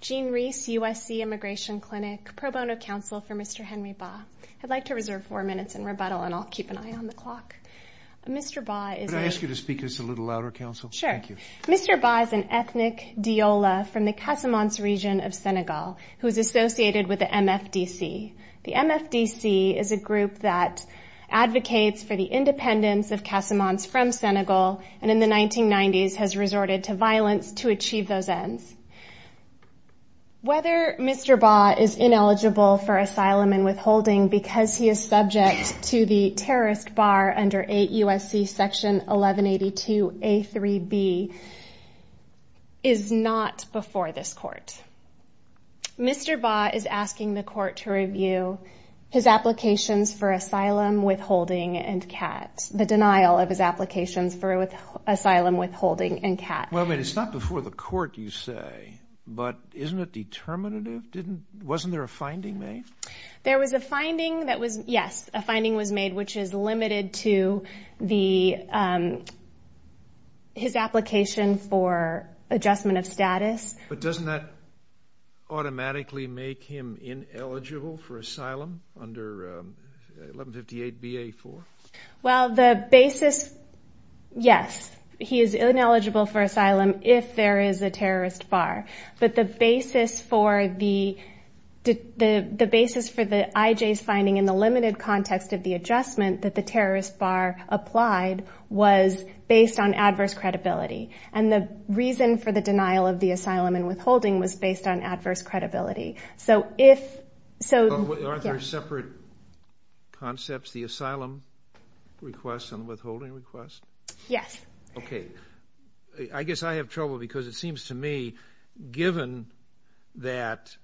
Gene Rees, USC Immigration Clinic Pro Bono Counsel for Mr. Henry Ba I'd like to reserve four minutes in rebuttal and I'll keep an eye on the clock. Could I ask you to speak to us a little louder, Counsel? Sure. Mr. Ba is an ethnic deola from the Casamance region of Senegal who is associated with the MFDC. The MFDC is a group that advocates for the independence of Casamance from Senegal and in the 1990s has resorted to violence to achieve those ends. Whether Mr. Ba is ineligible for asylum and withholding because he is subject to the terrorist bar under 8 U.S.C. section 1182 A.3.B is not before this court. Mr. Ba is asking the court to review his applications for asylum, withholding, and CAT. The denial of his applications for asylum, withholding, and CAT. Well, it's not before the court, you say, but isn't it determinative? Wasn't there a finding made? There was a finding that was, yes, a finding was made, which is limited to his application for adjustment of status. But doesn't that automatically make him ineligible for asylum under 1158 B.A. 4? Well, the basis, yes, he is ineligible for asylum if there is a terrorist bar. But the basis for the IJ's finding in the limited context of the adjustment that the terrorist bar applied was based on adverse credibility. And the reason for the denial of the asylum and withholding was based on adverse credibility. Aren't there separate concepts, the asylum request and withholding request? Yes. Okay. I guess I have trouble because it seems to me given that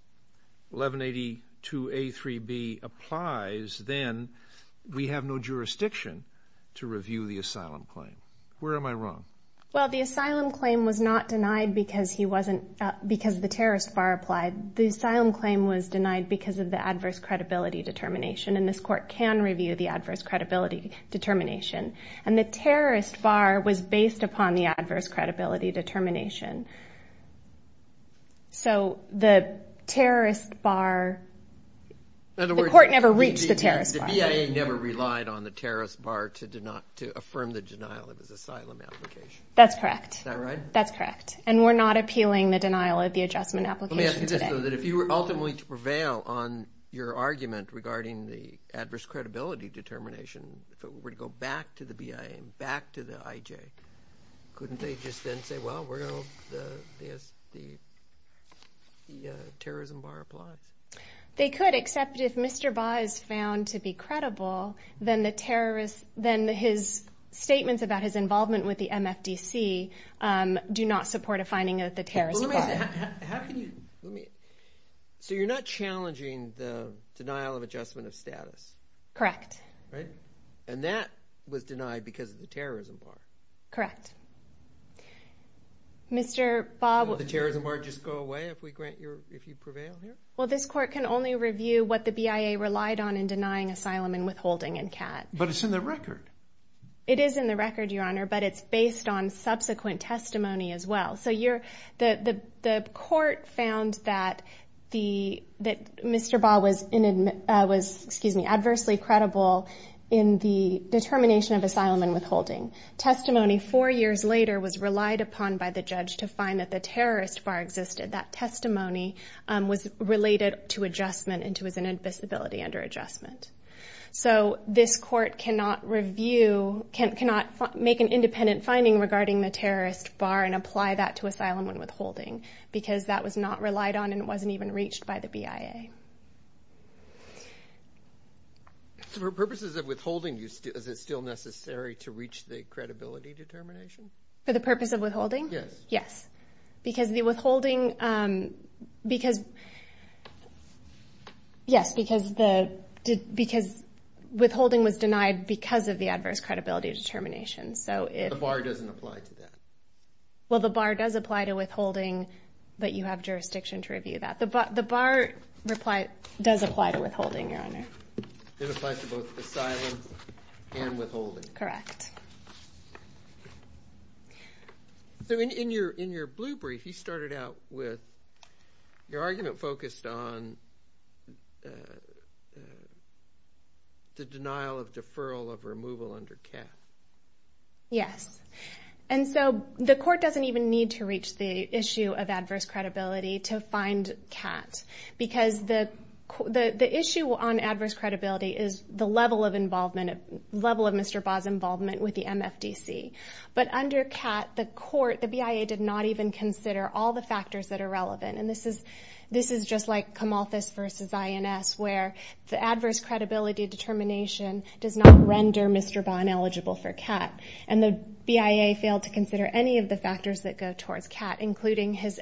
1182 A.3.B applies, then we have no jurisdiction to review the asylum claim. Where am I wrong? Well, the asylum claim was not denied because the terrorist bar applied. The asylum claim was denied because of the adverse credibility determination, and this court can review the adverse credibility determination. And the terrorist bar was based upon the adverse credibility determination. So the terrorist bar, the court never reached the terrorist bar. The BIA never relied on the terrorist bar to affirm the denial of his asylum application. That's correct. Is that right? That's correct. And we're not appealing the denial of the adjustment application today. Let me ask you this, though. If you were ultimately to prevail on your argument regarding the adverse credibility determination, if it were to go back to the BIA and back to the IJ, couldn't they just then say, well, we're going to let the terrorism bar apply? They could, except if Mr. Baugh is found to be credible, then his statements about his involvement with the MFDC do not support a finding of the terrorism bar. So you're not challenging the denial of adjustment of status? Correct. Right. And that was denied because of the terrorism bar? Correct. Mr. Baugh. Would the terrorism bar just go away if you prevail here? Well, this court can only review what the BIA relied on in denying asylum and withholding in CAD. But it's in the record. It is in the record, Your Honor, but it's based on subsequent testimony as well. So the court found that Mr. Baugh was adversely credible in the determination of asylum and withholding. Testimony four years later was relied upon by the judge to find that the terrorist bar existed. That testimony was related to adjustment and to his inadmissibility under adjustment. So this court cannot make an independent finding regarding the terrorist bar and apply that to asylum and withholding because that was not relied on and it wasn't even reached by the BIA. For purposes of withholding, is it still necessary to reach the credibility determination? For the purpose of withholding? Yes. Because the withholding was denied because of the adverse credibility determination. The bar doesn't apply to that. Well, the bar does apply to withholding, but you have jurisdiction to review that. The bar does apply to withholding, Your Honor. It applies to both asylum and withholding. Correct. Okay. So in your blue brief, you started out with your argument focused on the denial of deferral of removal under CAT. Yes. And so the court doesn't even need to reach the issue of adverse credibility to find CAT because the issue on adverse credibility is the level of Mr. Baugh's involvement with the MFDC. But under CAT, the court, the BIA, did not even consider all the factors that are relevant. And this is just like Camalthus versus INS, where the adverse credibility determination does not render Mr. Baugh ineligible for CAT. And the BIA failed to consider any of the factors that go towards CAT, including his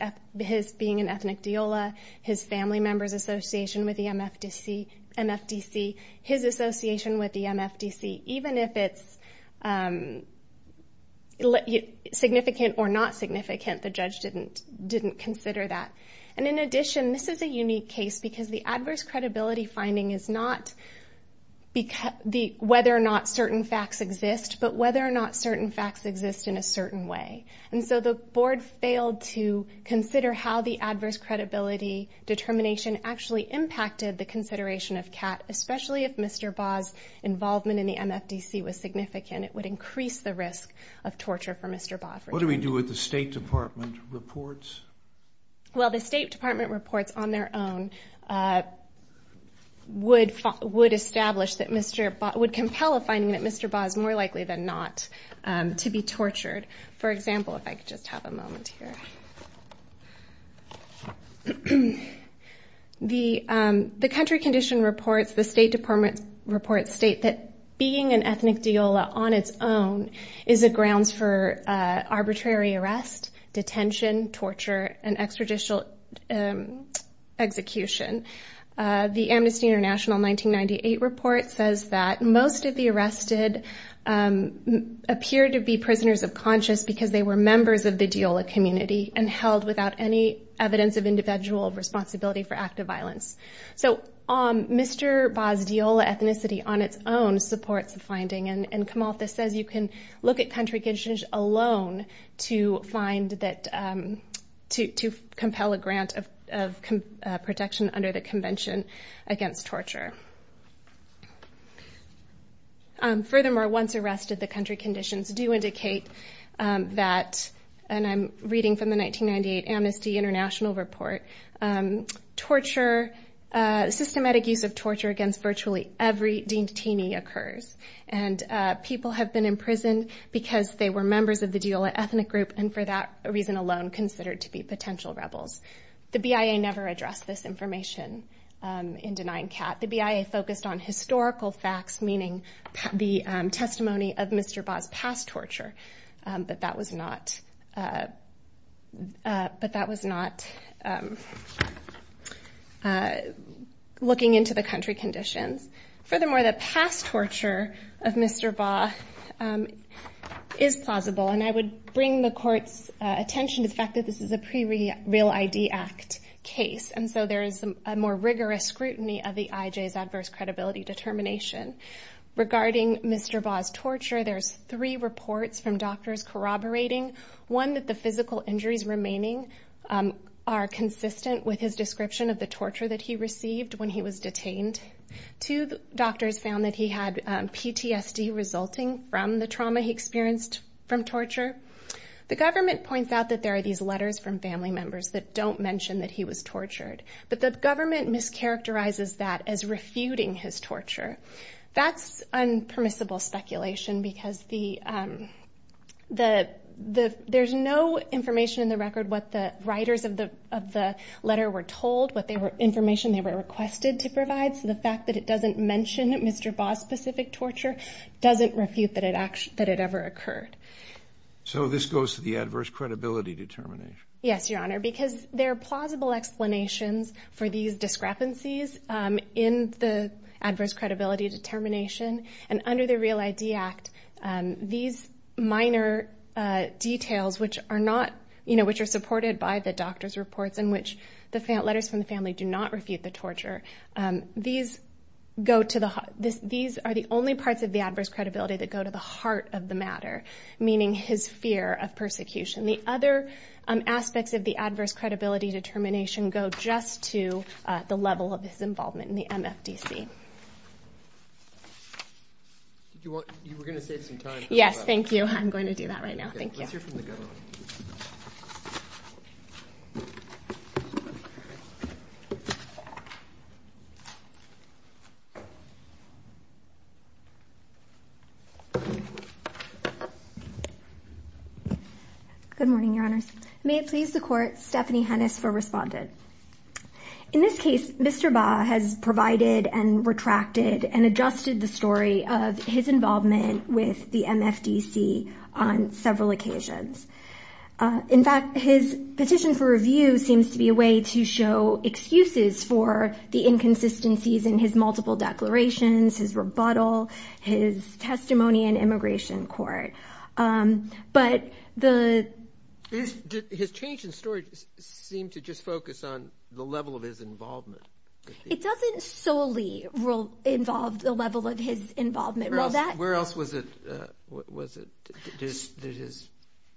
being an ethnic deola, his family member's association with the MFDC, his association with the MFDC. Even if it's significant or not significant, the judge didn't consider that. And in addition, this is a unique case because the adverse credibility finding is not whether or not certain facts exist, but whether or not certain facts exist in a certain way. And so the board failed to consider how the adverse credibility determination actually impacted the consideration of CAT, especially if Mr. Baugh's involvement in the MFDC was significant. It would increase the risk of torture for Mr. Baugh. What do we do with the State Department reports? Well, the State Department reports on their own would establish that Mr. Baugh, would compel a finding that Mr. Baugh is more likely than not to be tortured. For example, if I could just have a moment here. The country condition reports, the State Department reports state that being an ethnic deola on its own is a grounds for arbitrary arrest, detention, torture, and extrajudicial execution. The Amnesty International 1998 report says that most of the arrested appeared to be prisoners of conscience because they were members of the deola community and held without any evidence of individual responsibility for active violence. So Mr. Baugh's deola ethnicity on its own supports the finding, and Kamaltha says you can look at country conditions alone to find that, to compel a grant of protection under the Convention Against Torture. Furthermore, once arrested, the country conditions do indicate that, and I'm reading from the 1998 Amnesty International report, torture, systematic use of torture against virtually every detainee occurs, and people have been imprisoned because they were members of the deola ethnic group, and for that reason alone considered to be potential rebels. The BIA never addressed this information in denying Kat. The BIA focused on historical facts, meaning the testimony of Mr. Baugh's past torture, but that was not looking into the country conditions. Furthermore, the past torture of Mr. Baugh is plausible, and I would bring the court's attention to the fact that this is a pre-Real ID Act case, and so there is a more rigorous scrutiny of the IJ's adverse credibility determination. Regarding Mr. Baugh's torture, there's three reports from doctors corroborating, one that the physical injuries remaining are consistent with his description of the torture that he received when he was detained. Two doctors found that he had PTSD resulting from the trauma he experienced from torture. The government points out that there are these letters from family members that don't mention that he was tortured, but the government mischaracterizes that as refuting his torture. That's unpermissible speculation because there's no information in the record what the writers of the letter were told, what information they were requested to provide, so the fact that it doesn't mention Mr. Baugh's specific torture doesn't refute that it ever occurred. So this goes to the adverse credibility determination. Yes, Your Honor, because there are plausible explanations for these discrepancies in the adverse credibility determination, and under the Real ID Act, these minor details which are supported by the doctor's reports in which the letters from the family do not refute the torture, these are the only parts of the adverse credibility that go to the heart of the matter, meaning his fear of persecution. The other aspects of the adverse credibility determination go just to the level of his involvement in the MFDC. You were going to save some time. Yes, thank you. I'm going to do that right now. Thank you. Good morning, Your Honors. May it please the Court, Stephanie Hennis for Respondent. In this case, Mr. Baugh has provided and retracted and adjusted the story of his involvement with the MFDC on several occasions. In fact, his petition for review seems to be a way to show excuses for the inconsistencies in his multiple declarations, his rebuttal, his testimony in immigration court. His change in story seemed to just focus on the level of his involvement. It doesn't solely involve the level of his involvement. Where else was it that his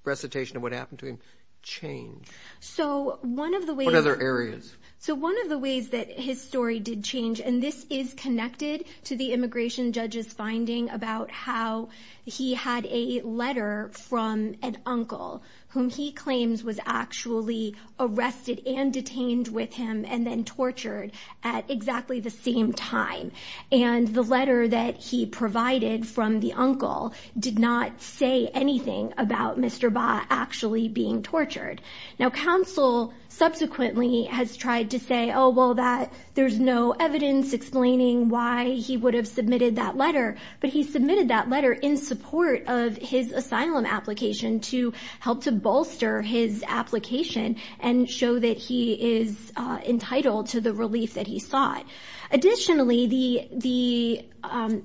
recitation of what happened to him changed? What other areas? One of the ways that his story did change, and this is connected to the immigration judge's finding about how he had a letter from an uncle whom he claims was actually arrested and detained with him and then tortured at exactly the same time. And the letter that he provided from the uncle did not say anything about Mr. Baugh actually being tortured. Now, counsel subsequently has tried to say, oh, well, there's no evidence explaining why he would have submitted that letter, but he submitted that letter in support of his asylum application to help to bolster his application and show that he is entitled to the relief that he sought. Additionally, the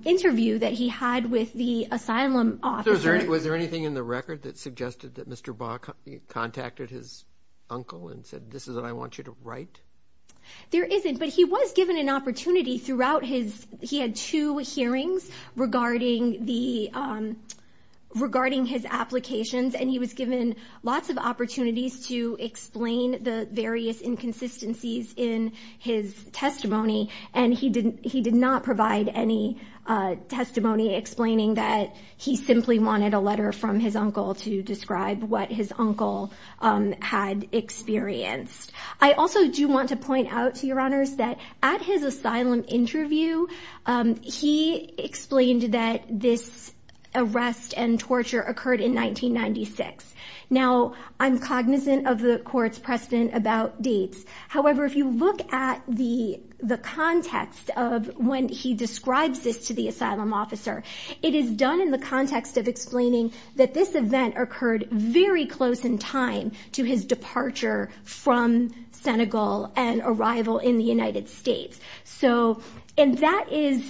interview that he had with the asylum officer. Was there anything in the record that suggested that Mr. Baugh contacted his uncle and said, this is what I want you to write? There isn't, but he was given an opportunity throughout his ‑‑ he had two hearings regarding his applications and he was given lots of opportunities to explain the various inconsistencies in his testimony. And he did not provide any testimony explaining that he simply wanted a letter from his uncle to describe what his uncle had experienced. I also do want to point out to your honors that at his asylum interview, he explained that this arrest and torture occurred in 1996. Now, I'm cognizant of the court's precedent about dates. However, if you look at the context of when he describes this to the asylum officer, it is done in the context of explaining that this event occurred very close in time to his departure from Senegal and arrival in the United States. And that is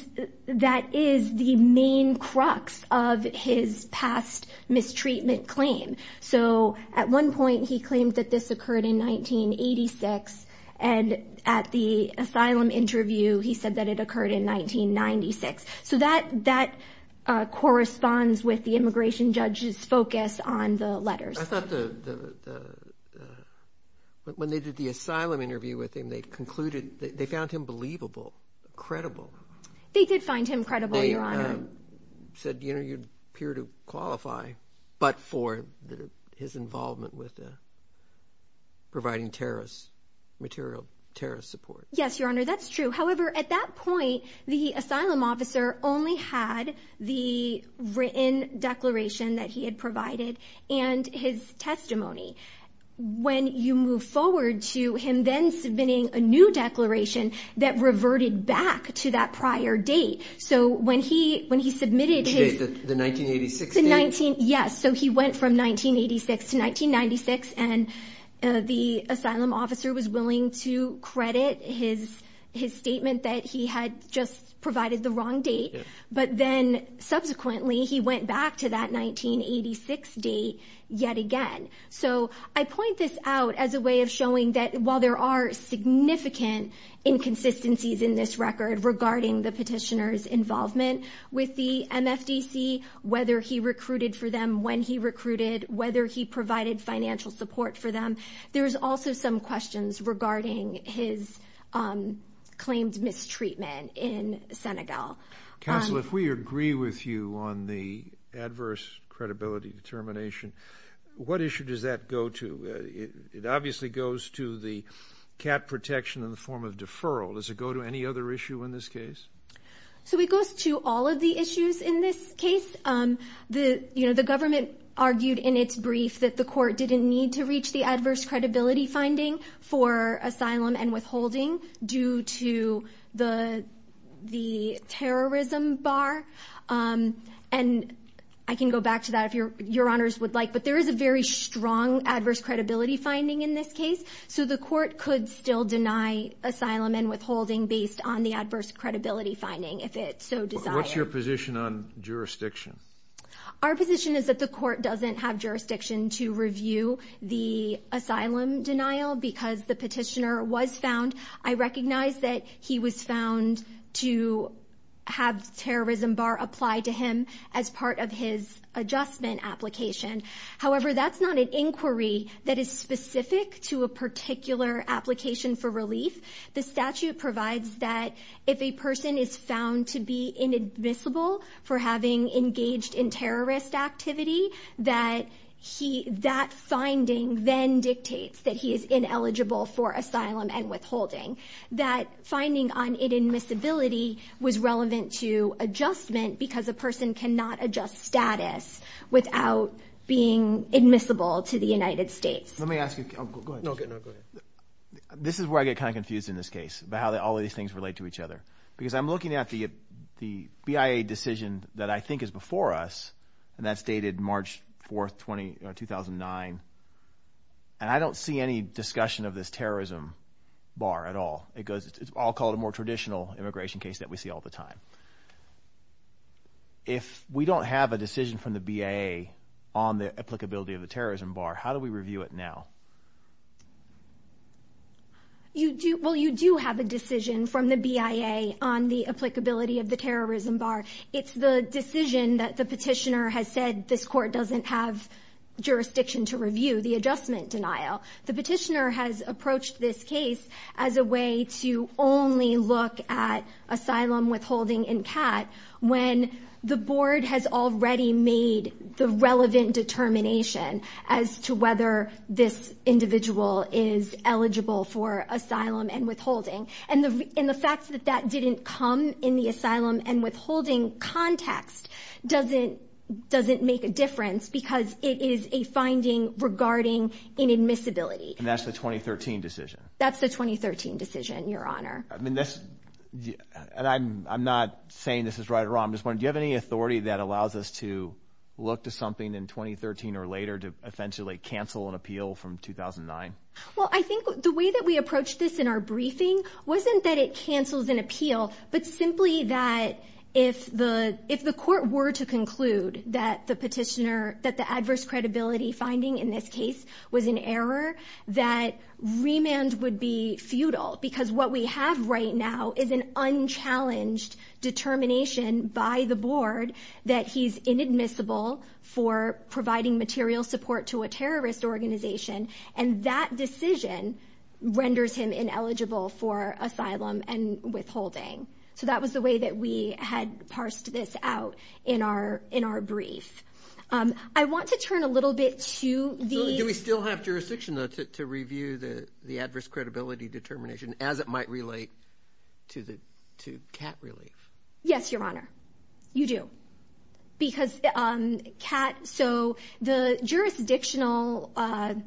the main crux of his past mistreatment claim. So at one point he claimed that this occurred in 1986 and at the asylum interview he said that it occurred in 1996. So that corresponds with the immigration judge's focus on the letters. I thought the ‑‑ when they did the asylum interview with him, they concluded ‑‑ they found him believable, credible. They did find him credible, your honor. They said, you know, you appear to qualify, but for his involvement with providing terrorist material, terrorist support. Yes, your honor, that's true. However, at that point, the asylum officer only had the written declaration that he had provided and his testimony. When you move forward to him then submitting a new declaration that reverted back to that prior date. So when he submitted his ‑‑ Which date, the 1986 date? Yes, so he went from 1986 to 1996 and the asylum officer was willing to credit his statement that he had just provided the wrong date. But then subsequently he went back to that 1986 date yet again. So I point this out as a way of showing that while there are significant inconsistencies in this record regarding the petitioner's involvement with the MFDC, whether he recruited for them when he recruited, whether he provided financial support for them, there's also some questions regarding his claimed mistreatment in Senegal. Counsel, if we agree with you on the adverse credibility determination, what issue does that go to? It obviously goes to the cat protection in the form of deferral. Does it go to any other issue in this case? So it goes to all of the issues in this case. The government argued in its brief that the court didn't need to reach the adverse credibility finding for asylum and withholding due to the terrorism bar. And I can go back to that if your honors would like, but there is a very strong adverse credibility finding in this case. So the court could still deny asylum and withholding based on the adverse credibility finding if it so desired. What's your position on jurisdiction? Our position is that the court doesn't have jurisdiction to review the asylum denial because the petitioner was found. I recognize that he was found to have the terrorism bar applied to him as part of his adjustment application. However, that's not an inquiry that is specific to a particular application for relief. The statute provides that if a person is found to be inadmissible for having engaged in terrorist activity, that finding then dictates that he is ineligible for asylum and withholding. That finding on inadmissibility was relevant to adjustment because a person cannot adjust status without being admissible to the United States. Let me ask you a question. This is where I get kind of confused in this case about how all of these things relate to each other. Because I'm looking at the BIA decision that I think is before us, and that's dated March 4, 2009, and I don't see any discussion of this terrorism bar at all. It's all called a more traditional immigration case that we see all the time. If we don't have a decision from the BIA on the applicability of the terrorism bar, how do we review it now? Well, you do have a decision from the BIA on the applicability of the terrorism bar. It's the decision that the petitioner has said this court doesn't have jurisdiction to review, the adjustment denial. The petitioner has approached this case as a way to only look at asylum, withholding, and CAT when the board has already made the relevant determination as to whether this individual is eligible for asylum and withholding. And the fact that that didn't come in the asylum and withholding context doesn't make a difference because it is a finding regarding inadmissibility. And that's the 2013 decision? That's the 2013 decision, Your Honor. And I'm not saying this is right or wrong. I'm just wondering, do you have any authority that allows us to look to something in 2013 or later to eventually cancel an appeal from 2009? Well, I think the way that we approached this in our briefing wasn't that it cancels an appeal, but simply that if the court were to conclude that the petitioner, that the adverse credibility finding in this case was an error, that remand would be futile because what we have right now is an unchallenged determination by the board that he's inadmissible for providing material support to a terrorist organization. And that decision renders him ineligible for asylum and withholding. So that was the way that we had parsed this out in our brief. I want to turn a little bit to these. Do we still have jurisdiction to review the adverse credibility determination as it might relate to CAT relief? Yes, Your Honor, you do. Because CAT, so the jurisdictional, the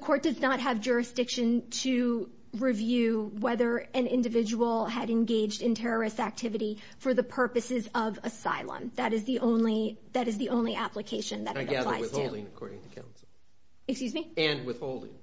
court does not have jurisdiction to review whether an individual had engaged in terrorist activity for the purposes of asylum. That is the only application that it applies to. And withholding, according to counsel. Excuse me? And withholding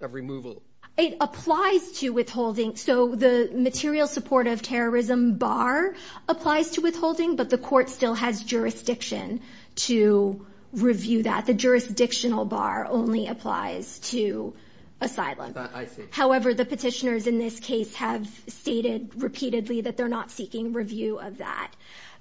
of removal. It applies to withholding. So the material support of terrorism bar applies to withholding, but the court still has jurisdiction to review that. The jurisdictional bar only applies to asylum. I see. However, the petitioners in this case have stated repeatedly that they're not seeking review of that.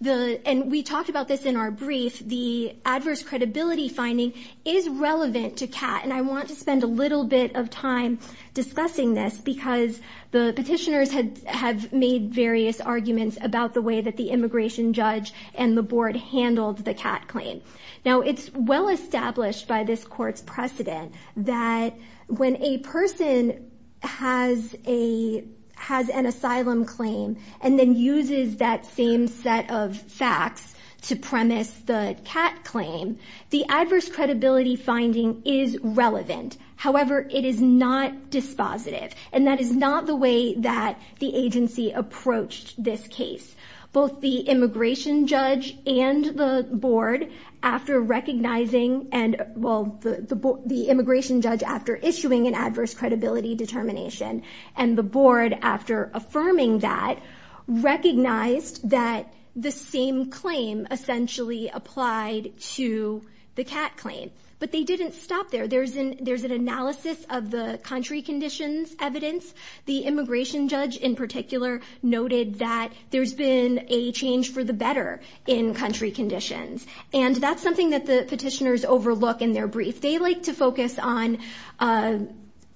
And we talked about this in our brief. The adverse credibility finding is relevant to CAT. And I want to spend a little bit of time discussing this because the petitioners have made various arguments about the way that the immigration judge and the board handled the CAT claim. Now, it's well established by this court's precedent that when a person has an asylum claim and then uses that same set of facts to premise the CAT claim, the adverse credibility finding is relevant. However, it is not dispositive. And that is not the way that the agency approached this case. Both the immigration judge and the board, after recognizing and, well, the immigration judge, after issuing an adverse credibility determination, and the board, after affirming that, recognized that the same claim essentially applied to the CAT claim. But they didn't stop there. There's an analysis of the country conditions evidence. The immigration judge, in particular, noted that there's been a change for the better in country conditions. And that's something that the petitioners overlook in their brief. They like to focus on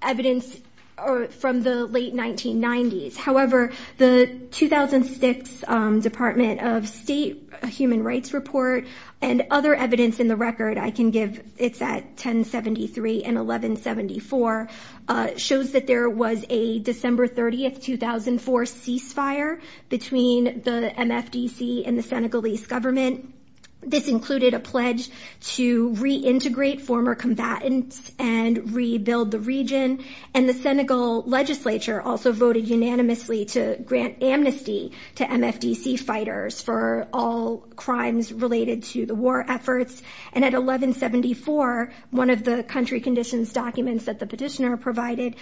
evidence from the late 1990s. However, the 2006 Department of State Human Rights Report and other evidence in the record, I can give, it's at 1073 and 1174, shows that there was a December 30, 2004, ceasefire between the MFDC and the Senegalese government. This included a pledge to reintegrate former combatants and rebuild the region. And the Senegal legislature also voted unanimously to grant amnesty to MFDC fighters for all crimes related to the war efforts. And at 1174, one of the country conditions documents that the petitioner provided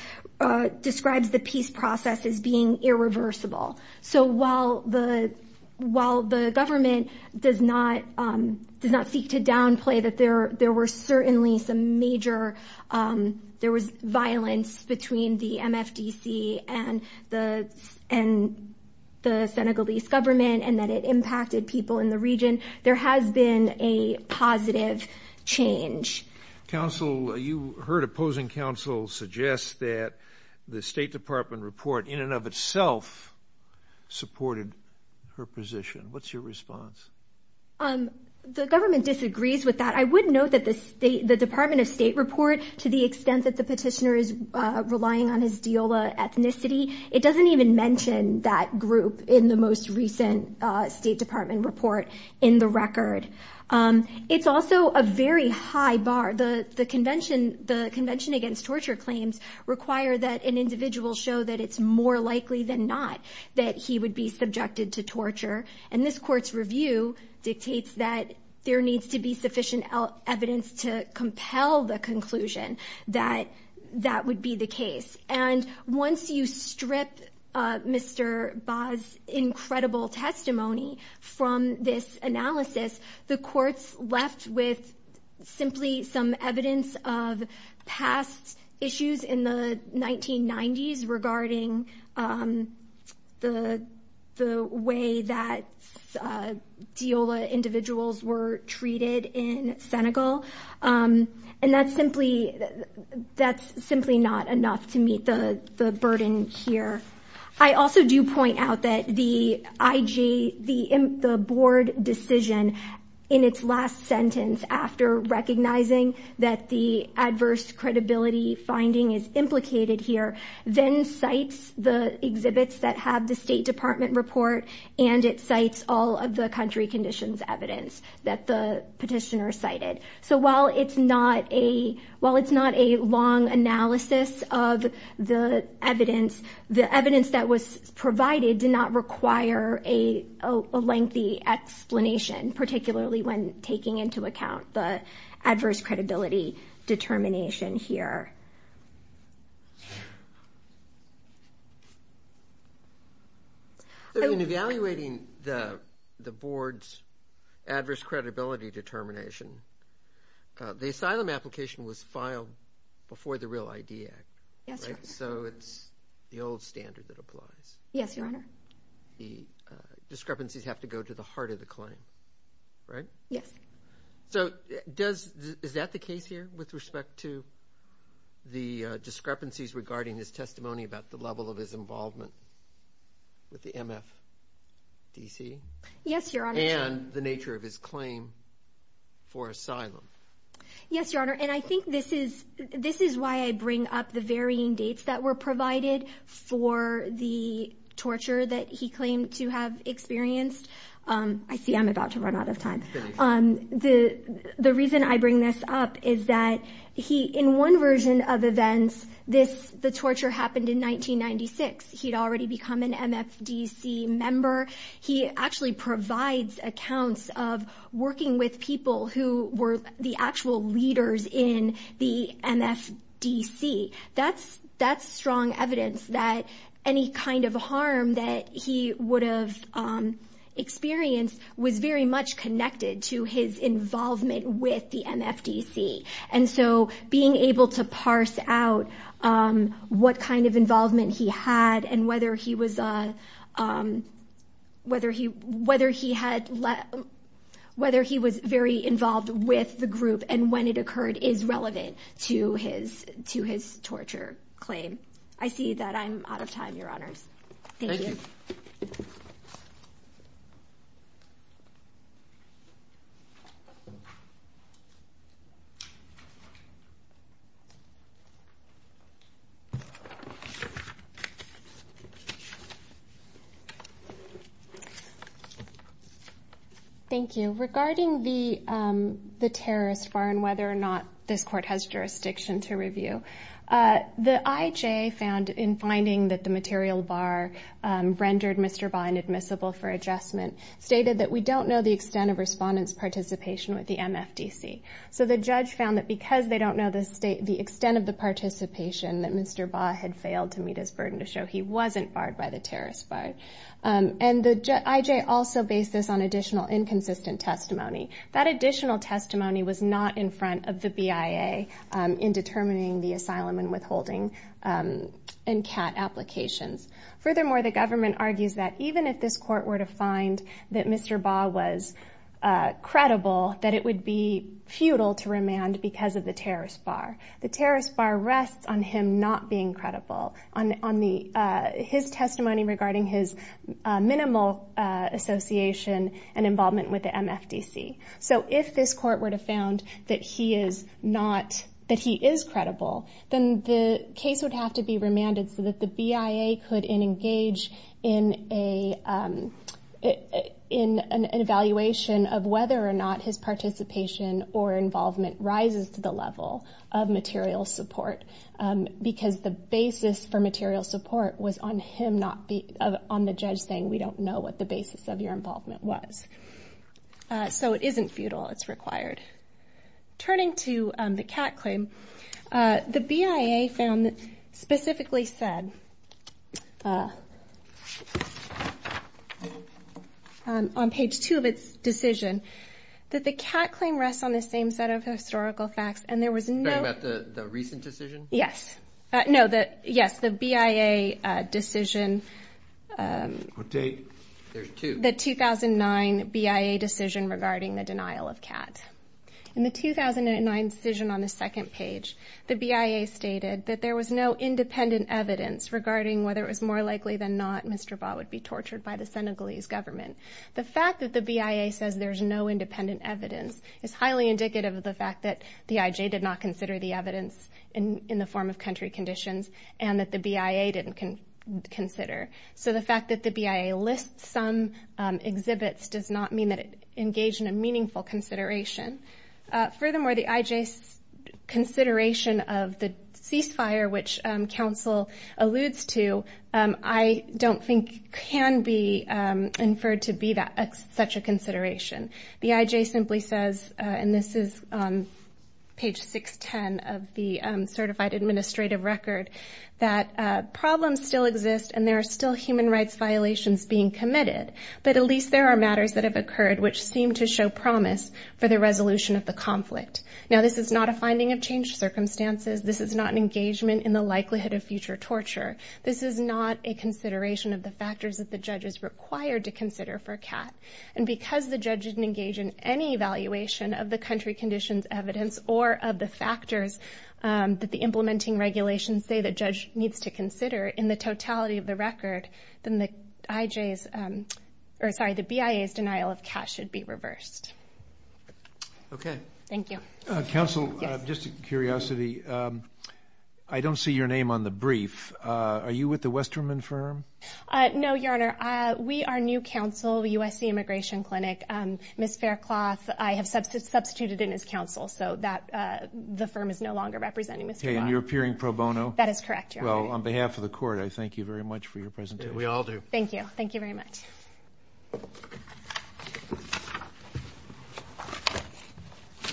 describes the peace process as being irreversible. So while the government does not seek to downplay that there were certainly some major, there was violence between the MFDC and the Senegalese government and that it impacted people in the region, there has been a positive change. Counsel, you heard opposing counsel suggest that the State Department report in and of itself supported her position. What's your response? The government disagrees with that. I would note that the Department of State report, to the extent that the petitioner is relying on his deola ethnicity, it doesn't even mention that group in the most recent State Department report in the record. It's also a very high bar. The Convention Against Torture Claims require that an individual show that it's more likely than not that he would be subjected to torture. And this Court's review dictates that there needs to be sufficient evidence to compel the conclusion that that would be the case. And once you strip Mr. Bas' incredible testimony from this analysis, the Court's left with simply some evidence of past issues in the 1990s regarding the way that deola individuals were treated in Senegal. And that's simply not enough to meet the burden here. I also do point out that the IG, the Board decision in its last sentence, after recognizing that the adverse credibility finding is implicated here, then cites the exhibits that have the State Department report, and it cites all of the country conditions evidence that the petitioner cited. So while it's not a long analysis of the evidence, the evidence that was provided did not require a lengthy explanation, particularly when taking into account the adverse credibility determination here. In evaluating the Board's adverse credibility determination, the asylum application was filed before the Real ID Act. Yes, Your Honor. So it's the old standard that applies. Yes, Your Honor. The discrepancies have to go to the heart of the claim, right? Yes. So is that the case here with respect to the discrepancies regarding his testimony about the level of his involvement with the MFDC? Yes, Your Honor. And the nature of his claim for asylum? Yes, Your Honor, and I think this is why I bring up the varying dates that were provided for the torture that he claimed to have experienced. I see I'm about to run out of time. The reason I bring this up is that in one version of events, the torture happened in 1996. He had already become an MFDC member. He actually provides accounts of working with people who were the actual leaders in the MFDC. That's strong evidence that any kind of harm that he would have experienced was very much connected to his involvement with the MFDC. And so being able to parse out what kind of involvement he had and whether he was very involved with the group and when it occurred is relevant to his torture claim. I see that I'm out of time, Your Honors. Thank you. Thank you. Regarding the terrorist bar and whether or not this court has jurisdiction to review, the IJA found in finding that the material bar rendered Mr. Baugh inadmissible for adjustment stated that we don't know the extent of respondents' participation with the MFDC. So the judge found that because they don't know the extent of the participation that Mr. Baugh had failed to meet his burden to show he wasn't barred by the terrorist bar. And the IJA also based this on additional inconsistent testimony. That additional testimony was not in front of the BIA in determining the asylum and withholding and CAT applications. Furthermore, the government argues that even if this court were to find that Mr. Baugh was credible, that it would be futile to remand because of the terrorist bar. The terrorist bar rests on him not being credible, on his testimony regarding his minimal association and involvement with the MFDC. So if this court were to found that he is credible, then the case would have to be remanded so that the BIA could engage in an evaluation of whether or not his participation or involvement rises to the level of material support because the basis for material support was on the judge saying, we don't know what the basis of your involvement was. So it isn't futile. It's required. Turning to the CAT claim, the BIA found, specifically said, on page two of its decision, that the CAT claim rests on the same set of historical facts and there was no- Yes. No, yes, the BIA decision, the 2009 BIA decision regarding the denial of CAT. In the 2009 decision on the second page, the BIA stated that there was no independent evidence regarding whether it was more likely than not Mr. Baugh would be tortured by the Senegalese government. The fact that the BIA says there's no independent evidence is highly indicative of the fact that in the form of country conditions and that the BIA didn't consider. So the fact that the BIA lists some exhibits does not mean that it engaged in a meaningful consideration. Furthermore, the IJ's consideration of the ceasefire, which counsel alludes to, I don't think can be inferred to be such a consideration. The IJ simply says, and this is on page 610 of the certified administrative record, that problems still exist and there are still human rights violations being committed, but at least there are matters that have occurred which seem to show promise for the resolution of the conflict. Now, this is not a finding of changed circumstances. This is not an engagement in the likelihood of future torture. This is not a consideration of the factors that the judge is required to consider for CAT. And because the judge didn't engage in any evaluation of the country conditions evidence or of the factors that the implementing regulations say the judge needs to consider in the totality of the record, then the BIA's denial of CAT should be reversed. Okay. Thank you. Counsel, just a curiosity, I don't see your name on the brief. Are you with the Westerman firm? No, Your Honor. We are new counsel, USC Immigration Clinic. Ms. Faircloth, I have substituted in as counsel, so the firm is no longer representing Ms. Faircloth. Okay. And you're appearing pro bono? That is correct, Your Honor. Well, on behalf of the court, I thank you very much for your presentation. We all do. Thank you. Thank you very much.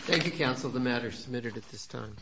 Thank you, counsel. The matter is submitted at this time.